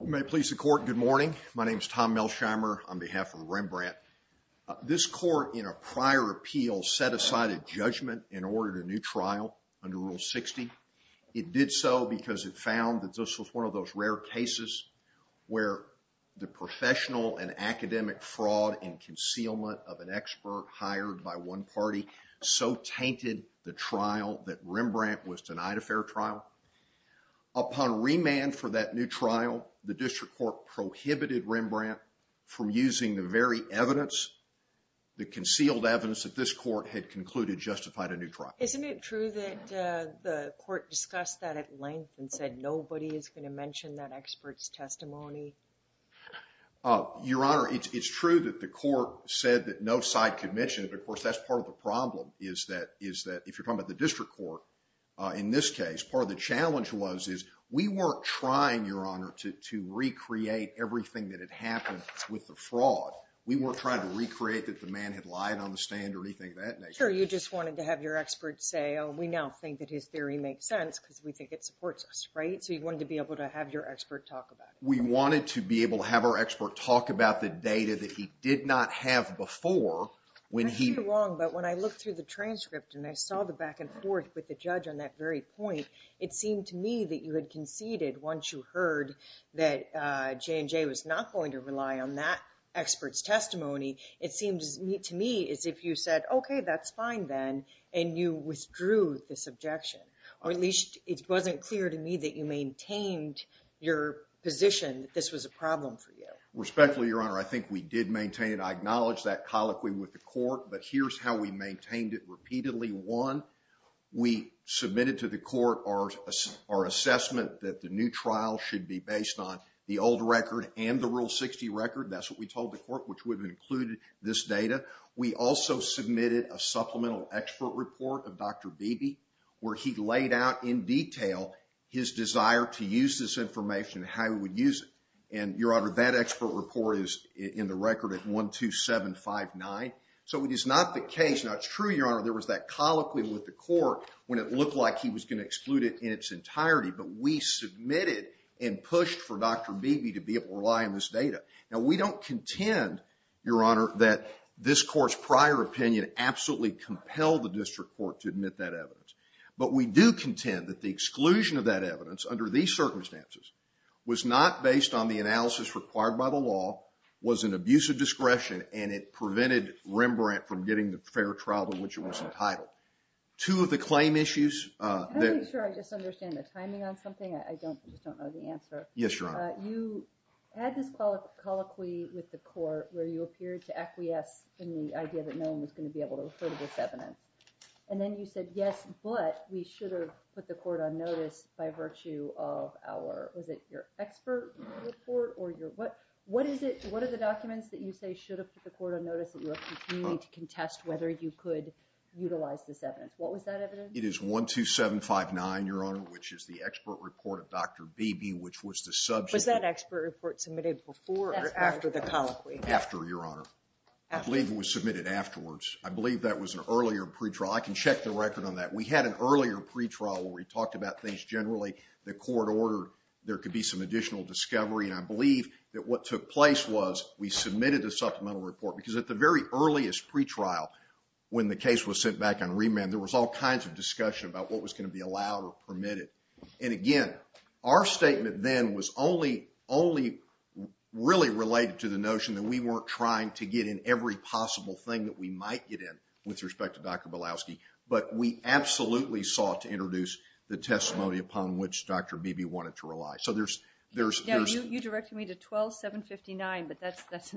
May it please the Court, good morning. My name is Tom Melsheimer on behalf of Rembrandt. This Court in a prior appeal set aside a judgment in order to new trial under Rule 60. It did so because it found that this was one of those rare cases where the professional and academic fraud and concealment of an expert hired by one party so tainted the trial that Rembrandt was denied a fair trial. Upon remand for that new trial, the District Court prohibited Rembrandt from using the very evidence, the concealed evidence that this Court had concluded justified a new trial. Isn't it true that the Court discussed that at length and said nobody is going to mention that expert's testimony? Your Honor, it's true that the Court said that no side could mention it, but of course that's part of the problem is that if you're talking about the District Court, in this case, part of the challenge was is we weren't trying, Your Honor, to recreate everything that had happened with the fraud. We weren't trying to recreate that the man had lied on the stand or anything of that nature. Sure, you just wanted to have your expert say, oh, we now think that his theory makes sense because we think it supports us, right? So you wanted to be able to have your expert talk about it. We wanted to be able to have our expert talk about the data that he did not have before when he... You're wrong, but when I looked through the transcript and I saw the back and forth with the judge on that very point, it seemed to me that you had conceded once you heard that J&J was not going to rely on that expert's testimony. It seems to me as if you said, okay, that's fine then, and you withdrew this objection, or at least it wasn't clear to me that you maintained your position that this was a problem for you. Respectfully, Your Honor, I think we did maintain it. I acknowledge that colloquy with the Court, but here's how we maintained it repeatedly. One, we submitted to the Court our assessment that the new trial should be based on the old record and the Rule 60 record. That's what we told the Court, which would have included this data. We also submitted a supplemental expert report of Dr. Beebe where he laid out in detail his desire to use this information and how he would use it. Your Honor, that expert report is in the record at 12759, so it is not the case... Now, it's true, Your Honor, there was that colloquy with the Court when it looked like he was going to exclude it in its entirety, but we submitted and pushed for Dr. Beebe to be able to rely on this data. Now, we don't contend, Your Honor, that this Court's prior opinion absolutely compelled the district court to admit that evidence. But we do contend that the exclusion of that evidence under these circumstances was not based on the analysis required by the law, was an abuse of discretion, and it prevented Rembrandt from getting the fair trial in which it was entitled. Two of the claim issues... Can I make sure I just understand the timing on something? I just don't know the answer. Yes, Your Honor. You had this colloquy with the Court where you appeared to acquiesce in the idea that no one was going to be able to refer to this evidence. And then you said, yes, but we should have put the Court on notice by virtue of our... Was it your expert report? What are the documents that you say should have put the Court on notice that you are continuing to contest whether you could utilize this evidence? What was that evidence? It is 12759, Your Honor, which is the expert report of Dr. Beebe, which was the subject... Was that expert report submitted before or after the colloquy? After, Your Honor. I believe it was submitted afterwards. I believe that was an earlier pre-trial. I can check the record on that. We had an earlier pre-trial where we talked about things generally. The Court ordered there could be some additional discovery. And I believe that what took place was we submitted a supplemental report because at the very earliest pre-trial, when the case was sent back on remand, there was all kinds of discussion about what was going to be allowed or permitted. And again, our statement then was only really related to the notion that we weren't trying to get in every possible thing that we might get in with respect to Dr. Bilowski. But we absolutely sought to introduce the testimony upon which Dr. Beebe wanted to rely. So there's... You directed me to 12759, but that's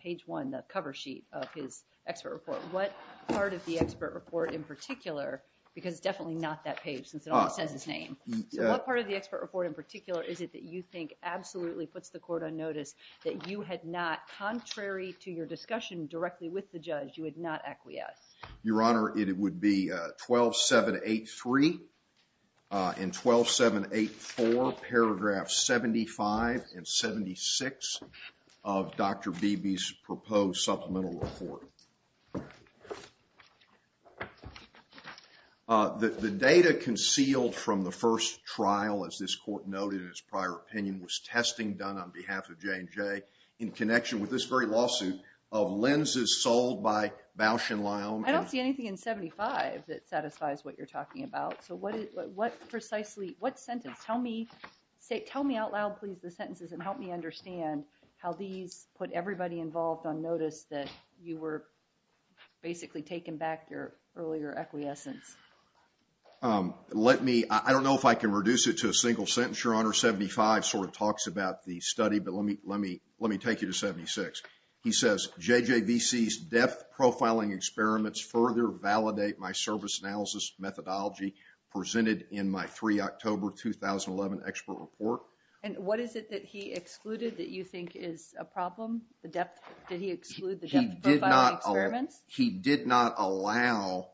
page one, the cover sheet of his expert report. What part of the expert report in particular, because it's definitely not that page since it almost says his name. So what part of the expert report in particular is it that you think absolutely puts the Court on notice that you had not, contrary to your discussion directly with the judge, you had not acquiesced? Your Honor, it would be 12783 and 12784, paragraphs 75 and 76 of Dr. Beebe's proposed supplemental report. The data concealed from the first trial, as this Court noted in its prior opinion, was testing done on behalf of J&J in connection with this very lawsuit of lenses sold by Bausch and Lyon. I don't see anything in 75 that satisfies what you're talking about. So what precisely, what sentence? Tell me out loud, please, the sentences and help me understand how these put everybody involved on notice that you were basically taking back your earlier acquiescence. Let me, I don't know if I can reduce it to a single sentence, Your Honor. 75 sort of talks about the study, but let me take you to 76. He says, JJVC's depth profiling experiments further validate my service analysis methodology presented in my 3 October 2011 expert report. And what is it that he excluded that you think is a problem? The depth, did he exclude the depth profiling experiments? He did not allow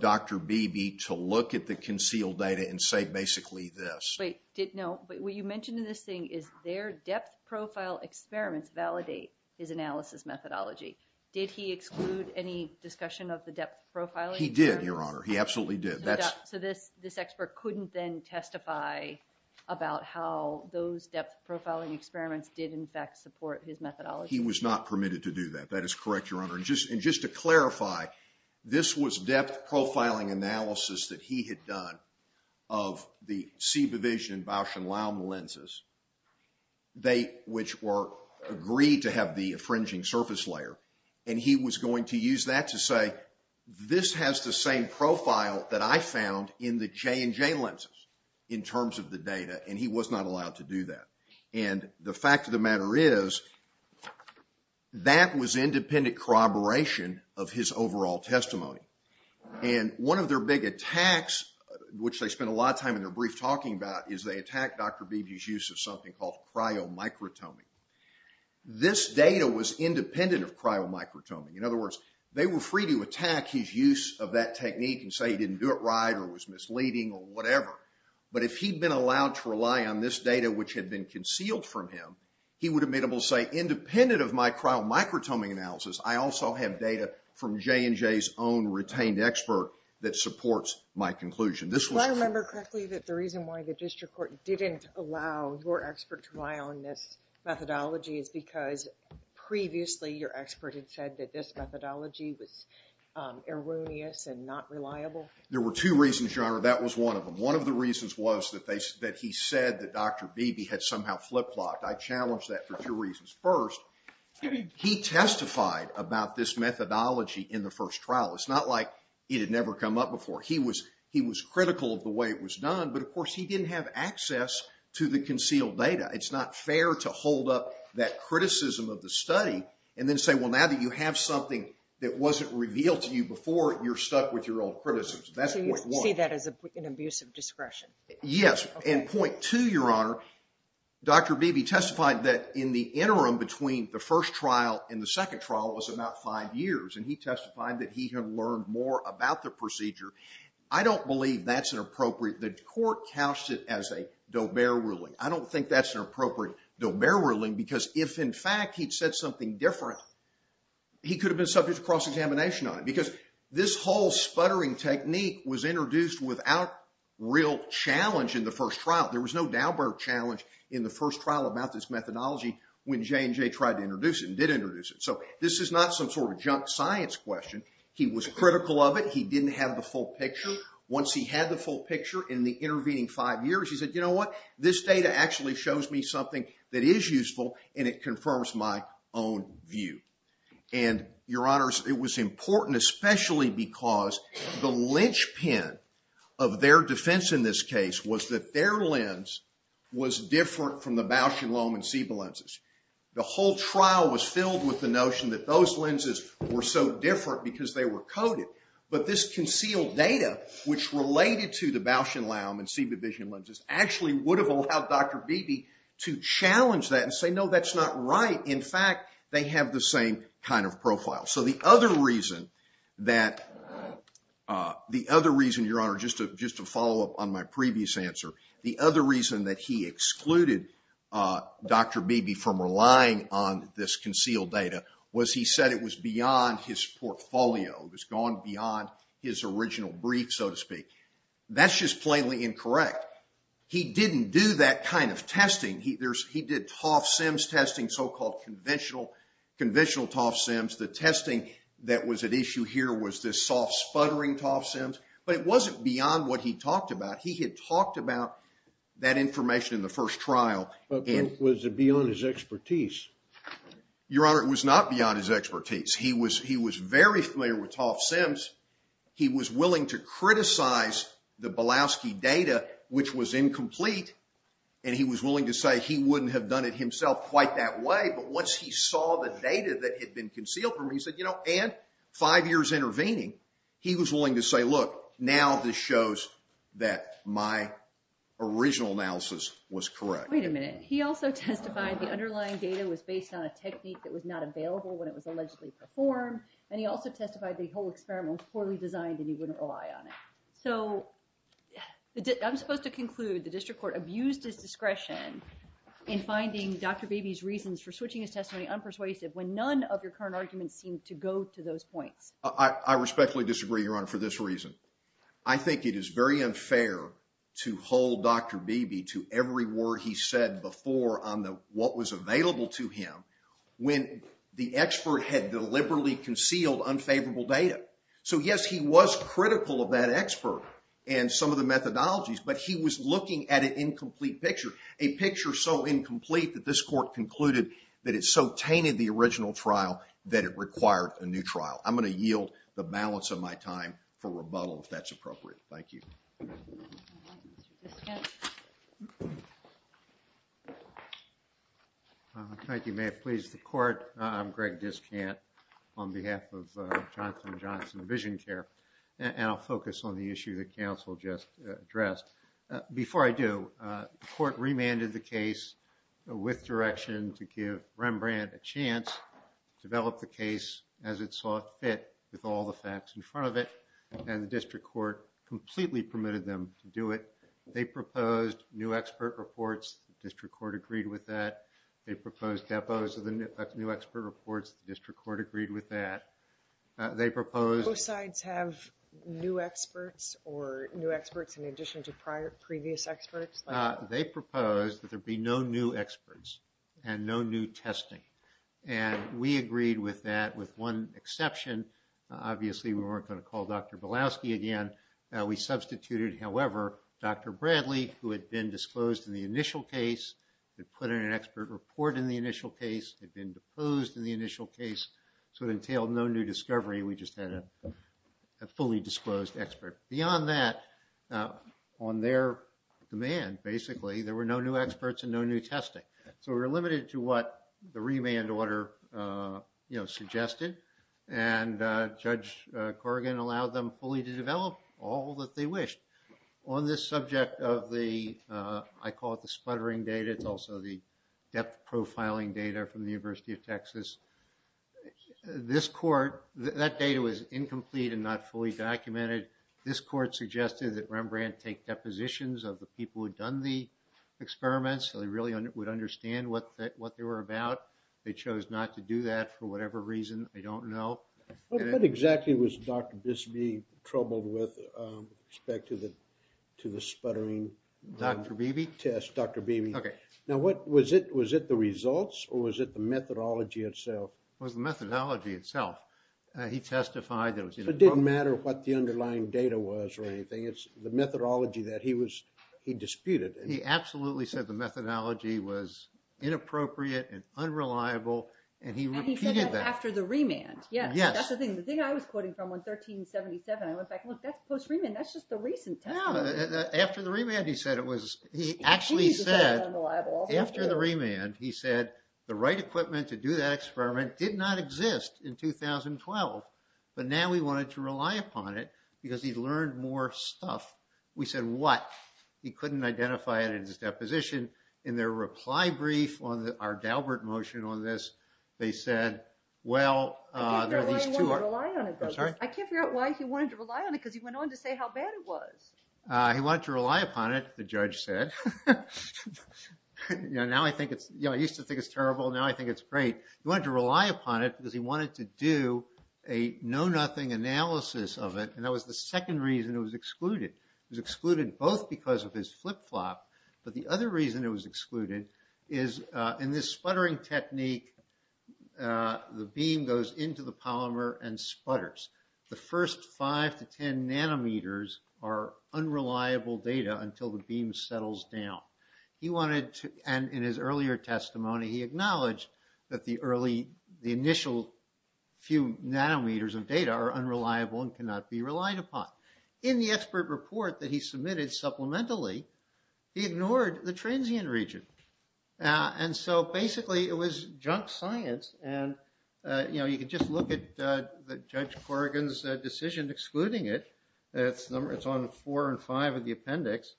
Dr. Beebe to look at the concealed data and say basically this. Wait, no, what you mentioned in this thing is their depth profile experiments validate his analysis methodology. Did he exclude any discussion of the depth profiling? He did, Your Honor. He absolutely did. So this expert couldn't then testify about how those depth profiling experiments did in fact support his methodology? He was not permitted to do that. That is correct, Your Honor. And just to clarify, this was depth profiling analysis that he had done of the C Division Bausch and Laum lenses. They, which were agreed to have the infringing surface layer. And he was going to use that to say this has the same profile that I found in the J and J lenses in terms of the data. And he was not allowed to do that. And the fact of the matter is that was independent corroboration of his overall testimony. And one of their big attacks, which they spent a lot of time in their brief talking about, is they attacked Dr. Beebe's use of something called cryomicrotomy. This data was independent of cryomicrotomy. In other words, they were free to attack his use of that technique and say he didn't do it right or it was misleading or whatever. But if he'd been allowed to rely on this data, which had been concealed from him, he would have been able to say independent of my cryomicrotomy analysis, I also have data from J and J's own retained expert that supports my conclusion. Do I remember correctly that the reason why the district court didn't allow your expert to rely on this methodology is because previously your expert had said that this methodology was erroneous and not reliable? There were two reasons, Your Honor. That was one of them. One of the reasons was that he said that Dr. Beebe had somehow flip-flopped. I challenge that for two reasons. First, he testified about this methodology in the first trial. It's not like it had never come up before. He was critical of the way it was done, but of course he didn't have access to the concealed data. It's not fair to hold up that criticism of the study and then say, well, now that you have something that wasn't revealed to you before, you're stuck with your old criticisms. That's point one. So you see that as an abuse of discretion? Yes, and point two, Your Honor, Dr. Beebe testified that in the interim between the first trial and the second trial was about five years, and he testified that he had learned more about the procedure. I don't believe that's an appropriate – the court couched it as a Daubert ruling. I don't think that's an appropriate Daubert ruling because if in fact he'd said something different, he could have been subject to cross-examination on it. Because this whole sputtering technique was introduced without real challenge in the first trial. There was no Daubert challenge in the first trial about this methodology when J&J tried to introduce it and did introduce it. So this is not some sort of junk science question. He was critical of it. He didn't have the full picture. Once he had the full picture in the intervening five years, he said, you know what? This data actually shows me something that is useful, and it confirms my own view. And, Your Honors, it was important especially because the linchpin of their defense in this case was that their lens was different from the Bausch & Lomb and Seba lenses. The whole trial was filled with the notion that those lenses were so different because they were coded. But this concealed data, which related to the Bausch & Lomb and Seba vision lenses, actually would have allowed Dr. Beebe to challenge that and say, no, that's not right. In fact, they have the same kind of profile. So the other reason, Your Honor, just to follow up on my previous answer, the other reason that he excluded Dr. Beebe from relying on this concealed data was he said it was beyond his portfolio. It was gone beyond his original brief, so to speak. That's just plainly incorrect. He didn't do that kind of testing. He did TOF-SIMS testing, so-called conventional TOF-SIMS. The testing that was at issue here was this soft sputtering TOF-SIMS. But it wasn't beyond what he talked about. He had talked about that information in the first trial. But was it beyond his expertise? Your Honor, it was not beyond his expertise. He was very familiar with TOF-SIMS. He was willing to criticize the Bielowski data, which was incomplete, and he was willing to say he wouldn't have done it himself quite that way. But once he saw the data that had been concealed from him, he said, you know, and five years intervening, he was willing to say, look, now this shows that my original analysis was correct. Wait a minute. He also testified the underlying data was based on a technique that was not available when it was allegedly performed. And he also testified the whole experiment was poorly designed and he wouldn't rely on it. So I'm supposed to conclude the district court abused his discretion in finding Dr. Beebe's reasons for switching his testimony unpersuasive when none of your current arguments seem to go to those points. I respectfully disagree, Your Honor, for this reason. I think it is very unfair to hold Dr. Beebe to every word he said before on what was available to him when the expert had deliberately concealed unfavorable data. So, yes, he was critical of that expert and some of the methodologies, but he was looking at an incomplete picture, a picture so incomplete that this court concluded that it so tainted the original trial that it required a new trial. I'm going to yield the balance of my time for rebuttal if that's appropriate. Thank you. Mr. Discant. Thank you, ma'am. Please, the court. I'm Greg Discant on behalf of Johnson & Johnson VisionCare, and I'll focus on the issue that counsel just addressed. Before I do, the court remanded the case with direction to give Rembrandt a chance to develop the case as it saw fit with all the facts in front of it, and the district court completely permitted them to do it. They proposed new expert reports. The district court agreed with that. They proposed depots of the new expert reports. The district court agreed with that. They proposed... Both sides have new experts or new experts in addition to previous experts? They proposed that there be no new experts and no new testing, and we agreed with that with one exception. Obviously, we weren't going to call Dr. Balowski again. We substituted, however, Dr. Bradley, who had been disclosed in the initial case, had put in an expert report in the initial case, had been deposed in the initial case, so it entailed no new discovery. We just had a fully disclosed expert. Beyond that, on their demand, basically, there were no new experts and no new testing. So we were limited to what the remand order suggested, and Judge Corrigan allowed them fully to develop all that they wished. On this subject of the, I call it the sputtering data, it's also the depth profiling data from the University of Texas, this court, that data was incomplete and not fully documented. This court suggested that Rembrandt take depositions of the people who had done the experiments so they really would understand what they were about. They chose not to do that for whatever reason. They don't know. What exactly was Dr. Bisbee troubled with with respect to the sputtering test? Dr. Beebe? Dr. Beebe. Okay. Now, was it the results or was it the methodology itself? It was the methodology itself. He testified that it didn't matter what the underlying data was or anything. It's the methodology that he disputed. He absolutely said the methodology was inappropriate and unreliable, and he repeated that. After the Rembrandt? Yes. That's the thing. The thing I was quoting from on 1377, I went back, look, that's post-Rembrandt. That's just the recent testimony. After the Rembrandt, he said it was, he actually said, after the Rembrandt, he said the right equipment to do that experiment did not exist in 2012, but now we wanted to rely upon it because he learned more stuff. We said, what? He couldn't identify it in his deposition. In their reply brief on our Daubert motion on this, they said, well, there are these two. I can't figure out why he wanted to rely on it because he went on to say how bad it was. He wanted to rely upon it, the judge said. Now I think it's, you know, I used to think it's terrible. Now I think it's great. He wanted to rely upon it because he wanted to do a know-nothing analysis of it, and that was the second reason it was excluded. It was excluded both because of his flip-flop, but the other reason it was excluded is in this sputtering technique, the beam goes into the polymer and sputters. The first 5 to 10 nanometers are unreliable data until the beam settles down. He wanted to, and in his earlier testimony, he acknowledged that the early, the initial few nanometers of data are unreliable and cannot be relied upon. In the expert report that he submitted supplementally, he ignored the transient region. And so basically it was junk science, and, you know, you could just look at Judge Corrigan's decision excluding it. It's on 4 and 5 of the appendix.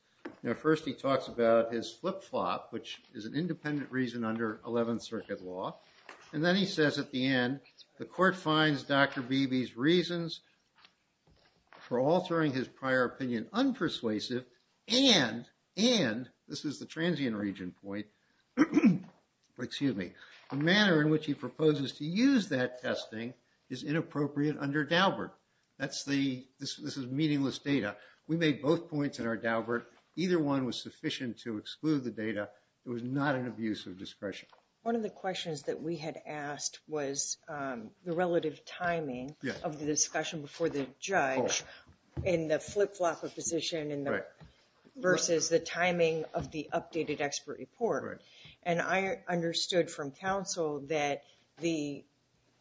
First he talks about his flip-flop, which is an independent reason under 11th Circuit law, and then he says at the end, the court finds Dr. Beebe's reasons for altering his prior opinion unpersuasive and, this is the transient region point, excuse me, the manner in which he proposes to use that testing is inappropriate under Daubert. This is meaningless data. We made both points in our Daubert. Either one was sufficient to exclude the data. It was not an abuse of discretion. One of the questions that we had asked was the relative timing of the discussion before the judge in the flip-flop position versus the timing of the updated expert report. And I understood from counsel that the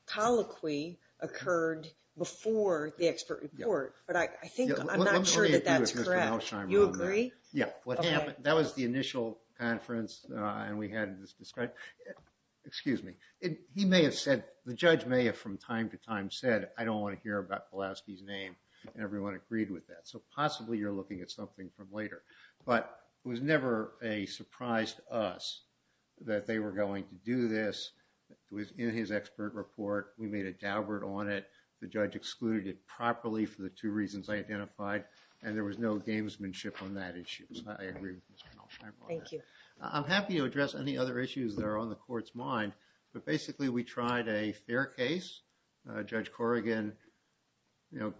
colloquy occurred before the expert report, but I think I'm not sure that that's correct. You agree? Yeah. That was the initial conference, and we had this discussion. Excuse me. He may have said, the judge may have from time to time said, I don't want to hear about Pulaski's name, and everyone agreed with that. So possibly you're looking at something from later. But it was never a surprise to us that they were going to do this. It was in his expert report. We made a Daubert on it. The judge excluded it properly for the two reasons I identified, and there was no gamesmanship on that issue. So I agree with Ms. Penalty. Thank you. I'm happy to address any other issues that are on the court's mind, but basically we tried a fair case. Judge Corrigan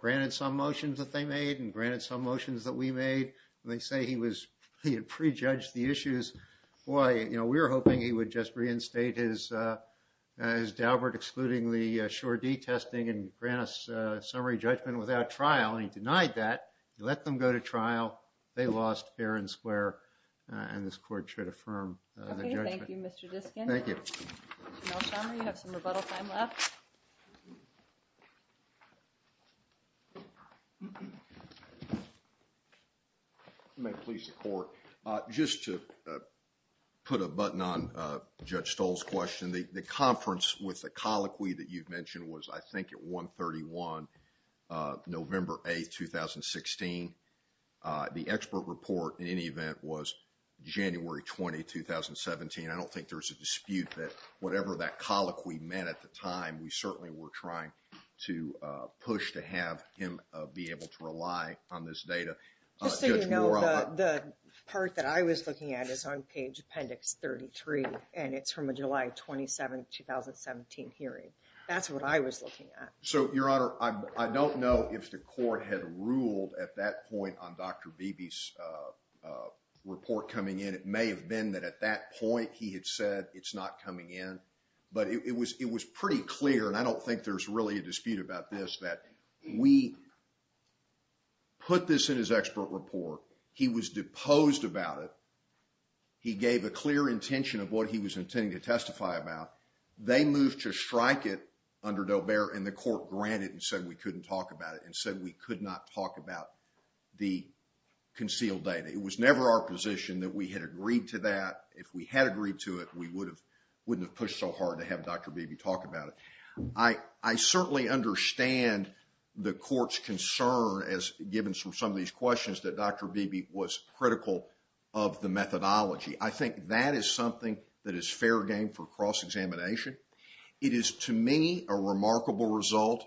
granted some motions that they made and granted some motions that we made. They say he had prejudged the issues. Boy, we were hoping he would just reinstate his Daubert, excluding the sure D testing and grant us a summary judgment without trial, and he denied that. He let them go to trial. They lost fair and square, and this court should affirm the judgment. Okay. Thank you, Mr. Diskin. Thank you. Mr. Nelson, you have some rebuttal time left. You may please support. Just to put a button on Judge Stoll's question, the conference with the colloquy that you've mentioned was, I think, at 131, November 8, 2016. The expert report, in any event, was January 20, 2017. I don't think there's a dispute that whatever that colloquy meant at the time, we certainly were trying to push to have him be able to rely on this data. Just so you know, the part that I was looking at is on page appendix 33, and it's from a July 27, 2017 hearing. That's what I was looking at. Your Honor, I don't know if the court had ruled at that point on Dr. Beebe's report coming in. It may have been that at that point he had said it's not coming in, but it was pretty clear, and I don't think there's really a dispute about this, that we put this in his expert report. He was deposed about it. He gave a clear intention of what he was intending to testify about. They moved to strike it under Dobear, and the court granted and said we couldn't talk about it and said we could not talk about the concealed data. It was never our position that we had agreed to that. If we had agreed to it, we wouldn't have pushed so hard to have Dr. Beebe talk about it. I certainly understand the court's concern, as given from some of these questions, that Dr. Beebe was critical of the methodology. I think that is something that is fair game for cross-examination. It is, to me, a remarkable result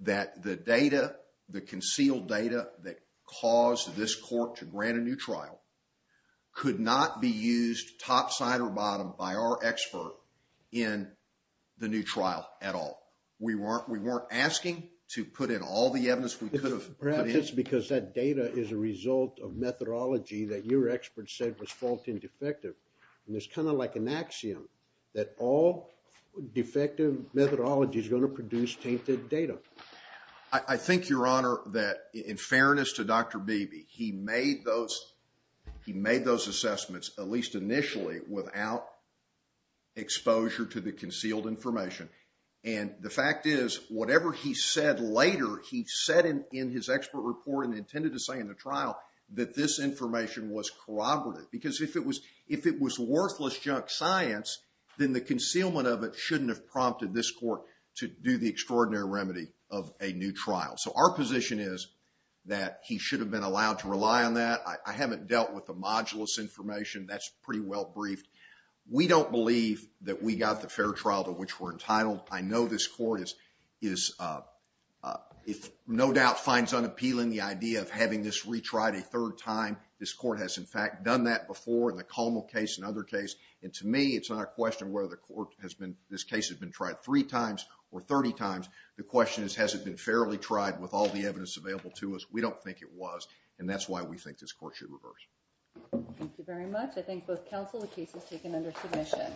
that the data, the concealed data, that caused this court to grant a new trial could not be used topside or bottom by our expert in the new trial at all. We weren't asking to put in all the evidence we could have put in. Perhaps it's because that data is a result of methodology that your expert said was fault and defective, and it's kind of like an axiom that all defective methodology is going to produce tainted data. I think, Your Honor, that in fairness to Dr. Beebe, he made those assessments, at least initially, without exposure to the concealed information. And the fact is, whatever he said later, he said in his expert report and intended to say in the trial, that this information was corroborative. Because if it was worthless junk science, then the concealment of it shouldn't have prompted this court to do the extraordinary remedy of a new trial. So our position is that he should have been allowed to rely on that. I haven't dealt with the modulus information. That's pretty well briefed. We don't believe that we got the fair trial to which we're entitled. I know this court is, if no doubt, finds unappealing the idea of having this retried a third time. This court has, in fact, done that before in the Commel case and other cases. And to me, it's not a question of whether this case has been tried three times or 30 times. The question is, has it been fairly tried with all the evidence available to us? We don't think it was. And that's why we think this court should reverse. Thank you very much. I thank both counsel. The case is taken under submission.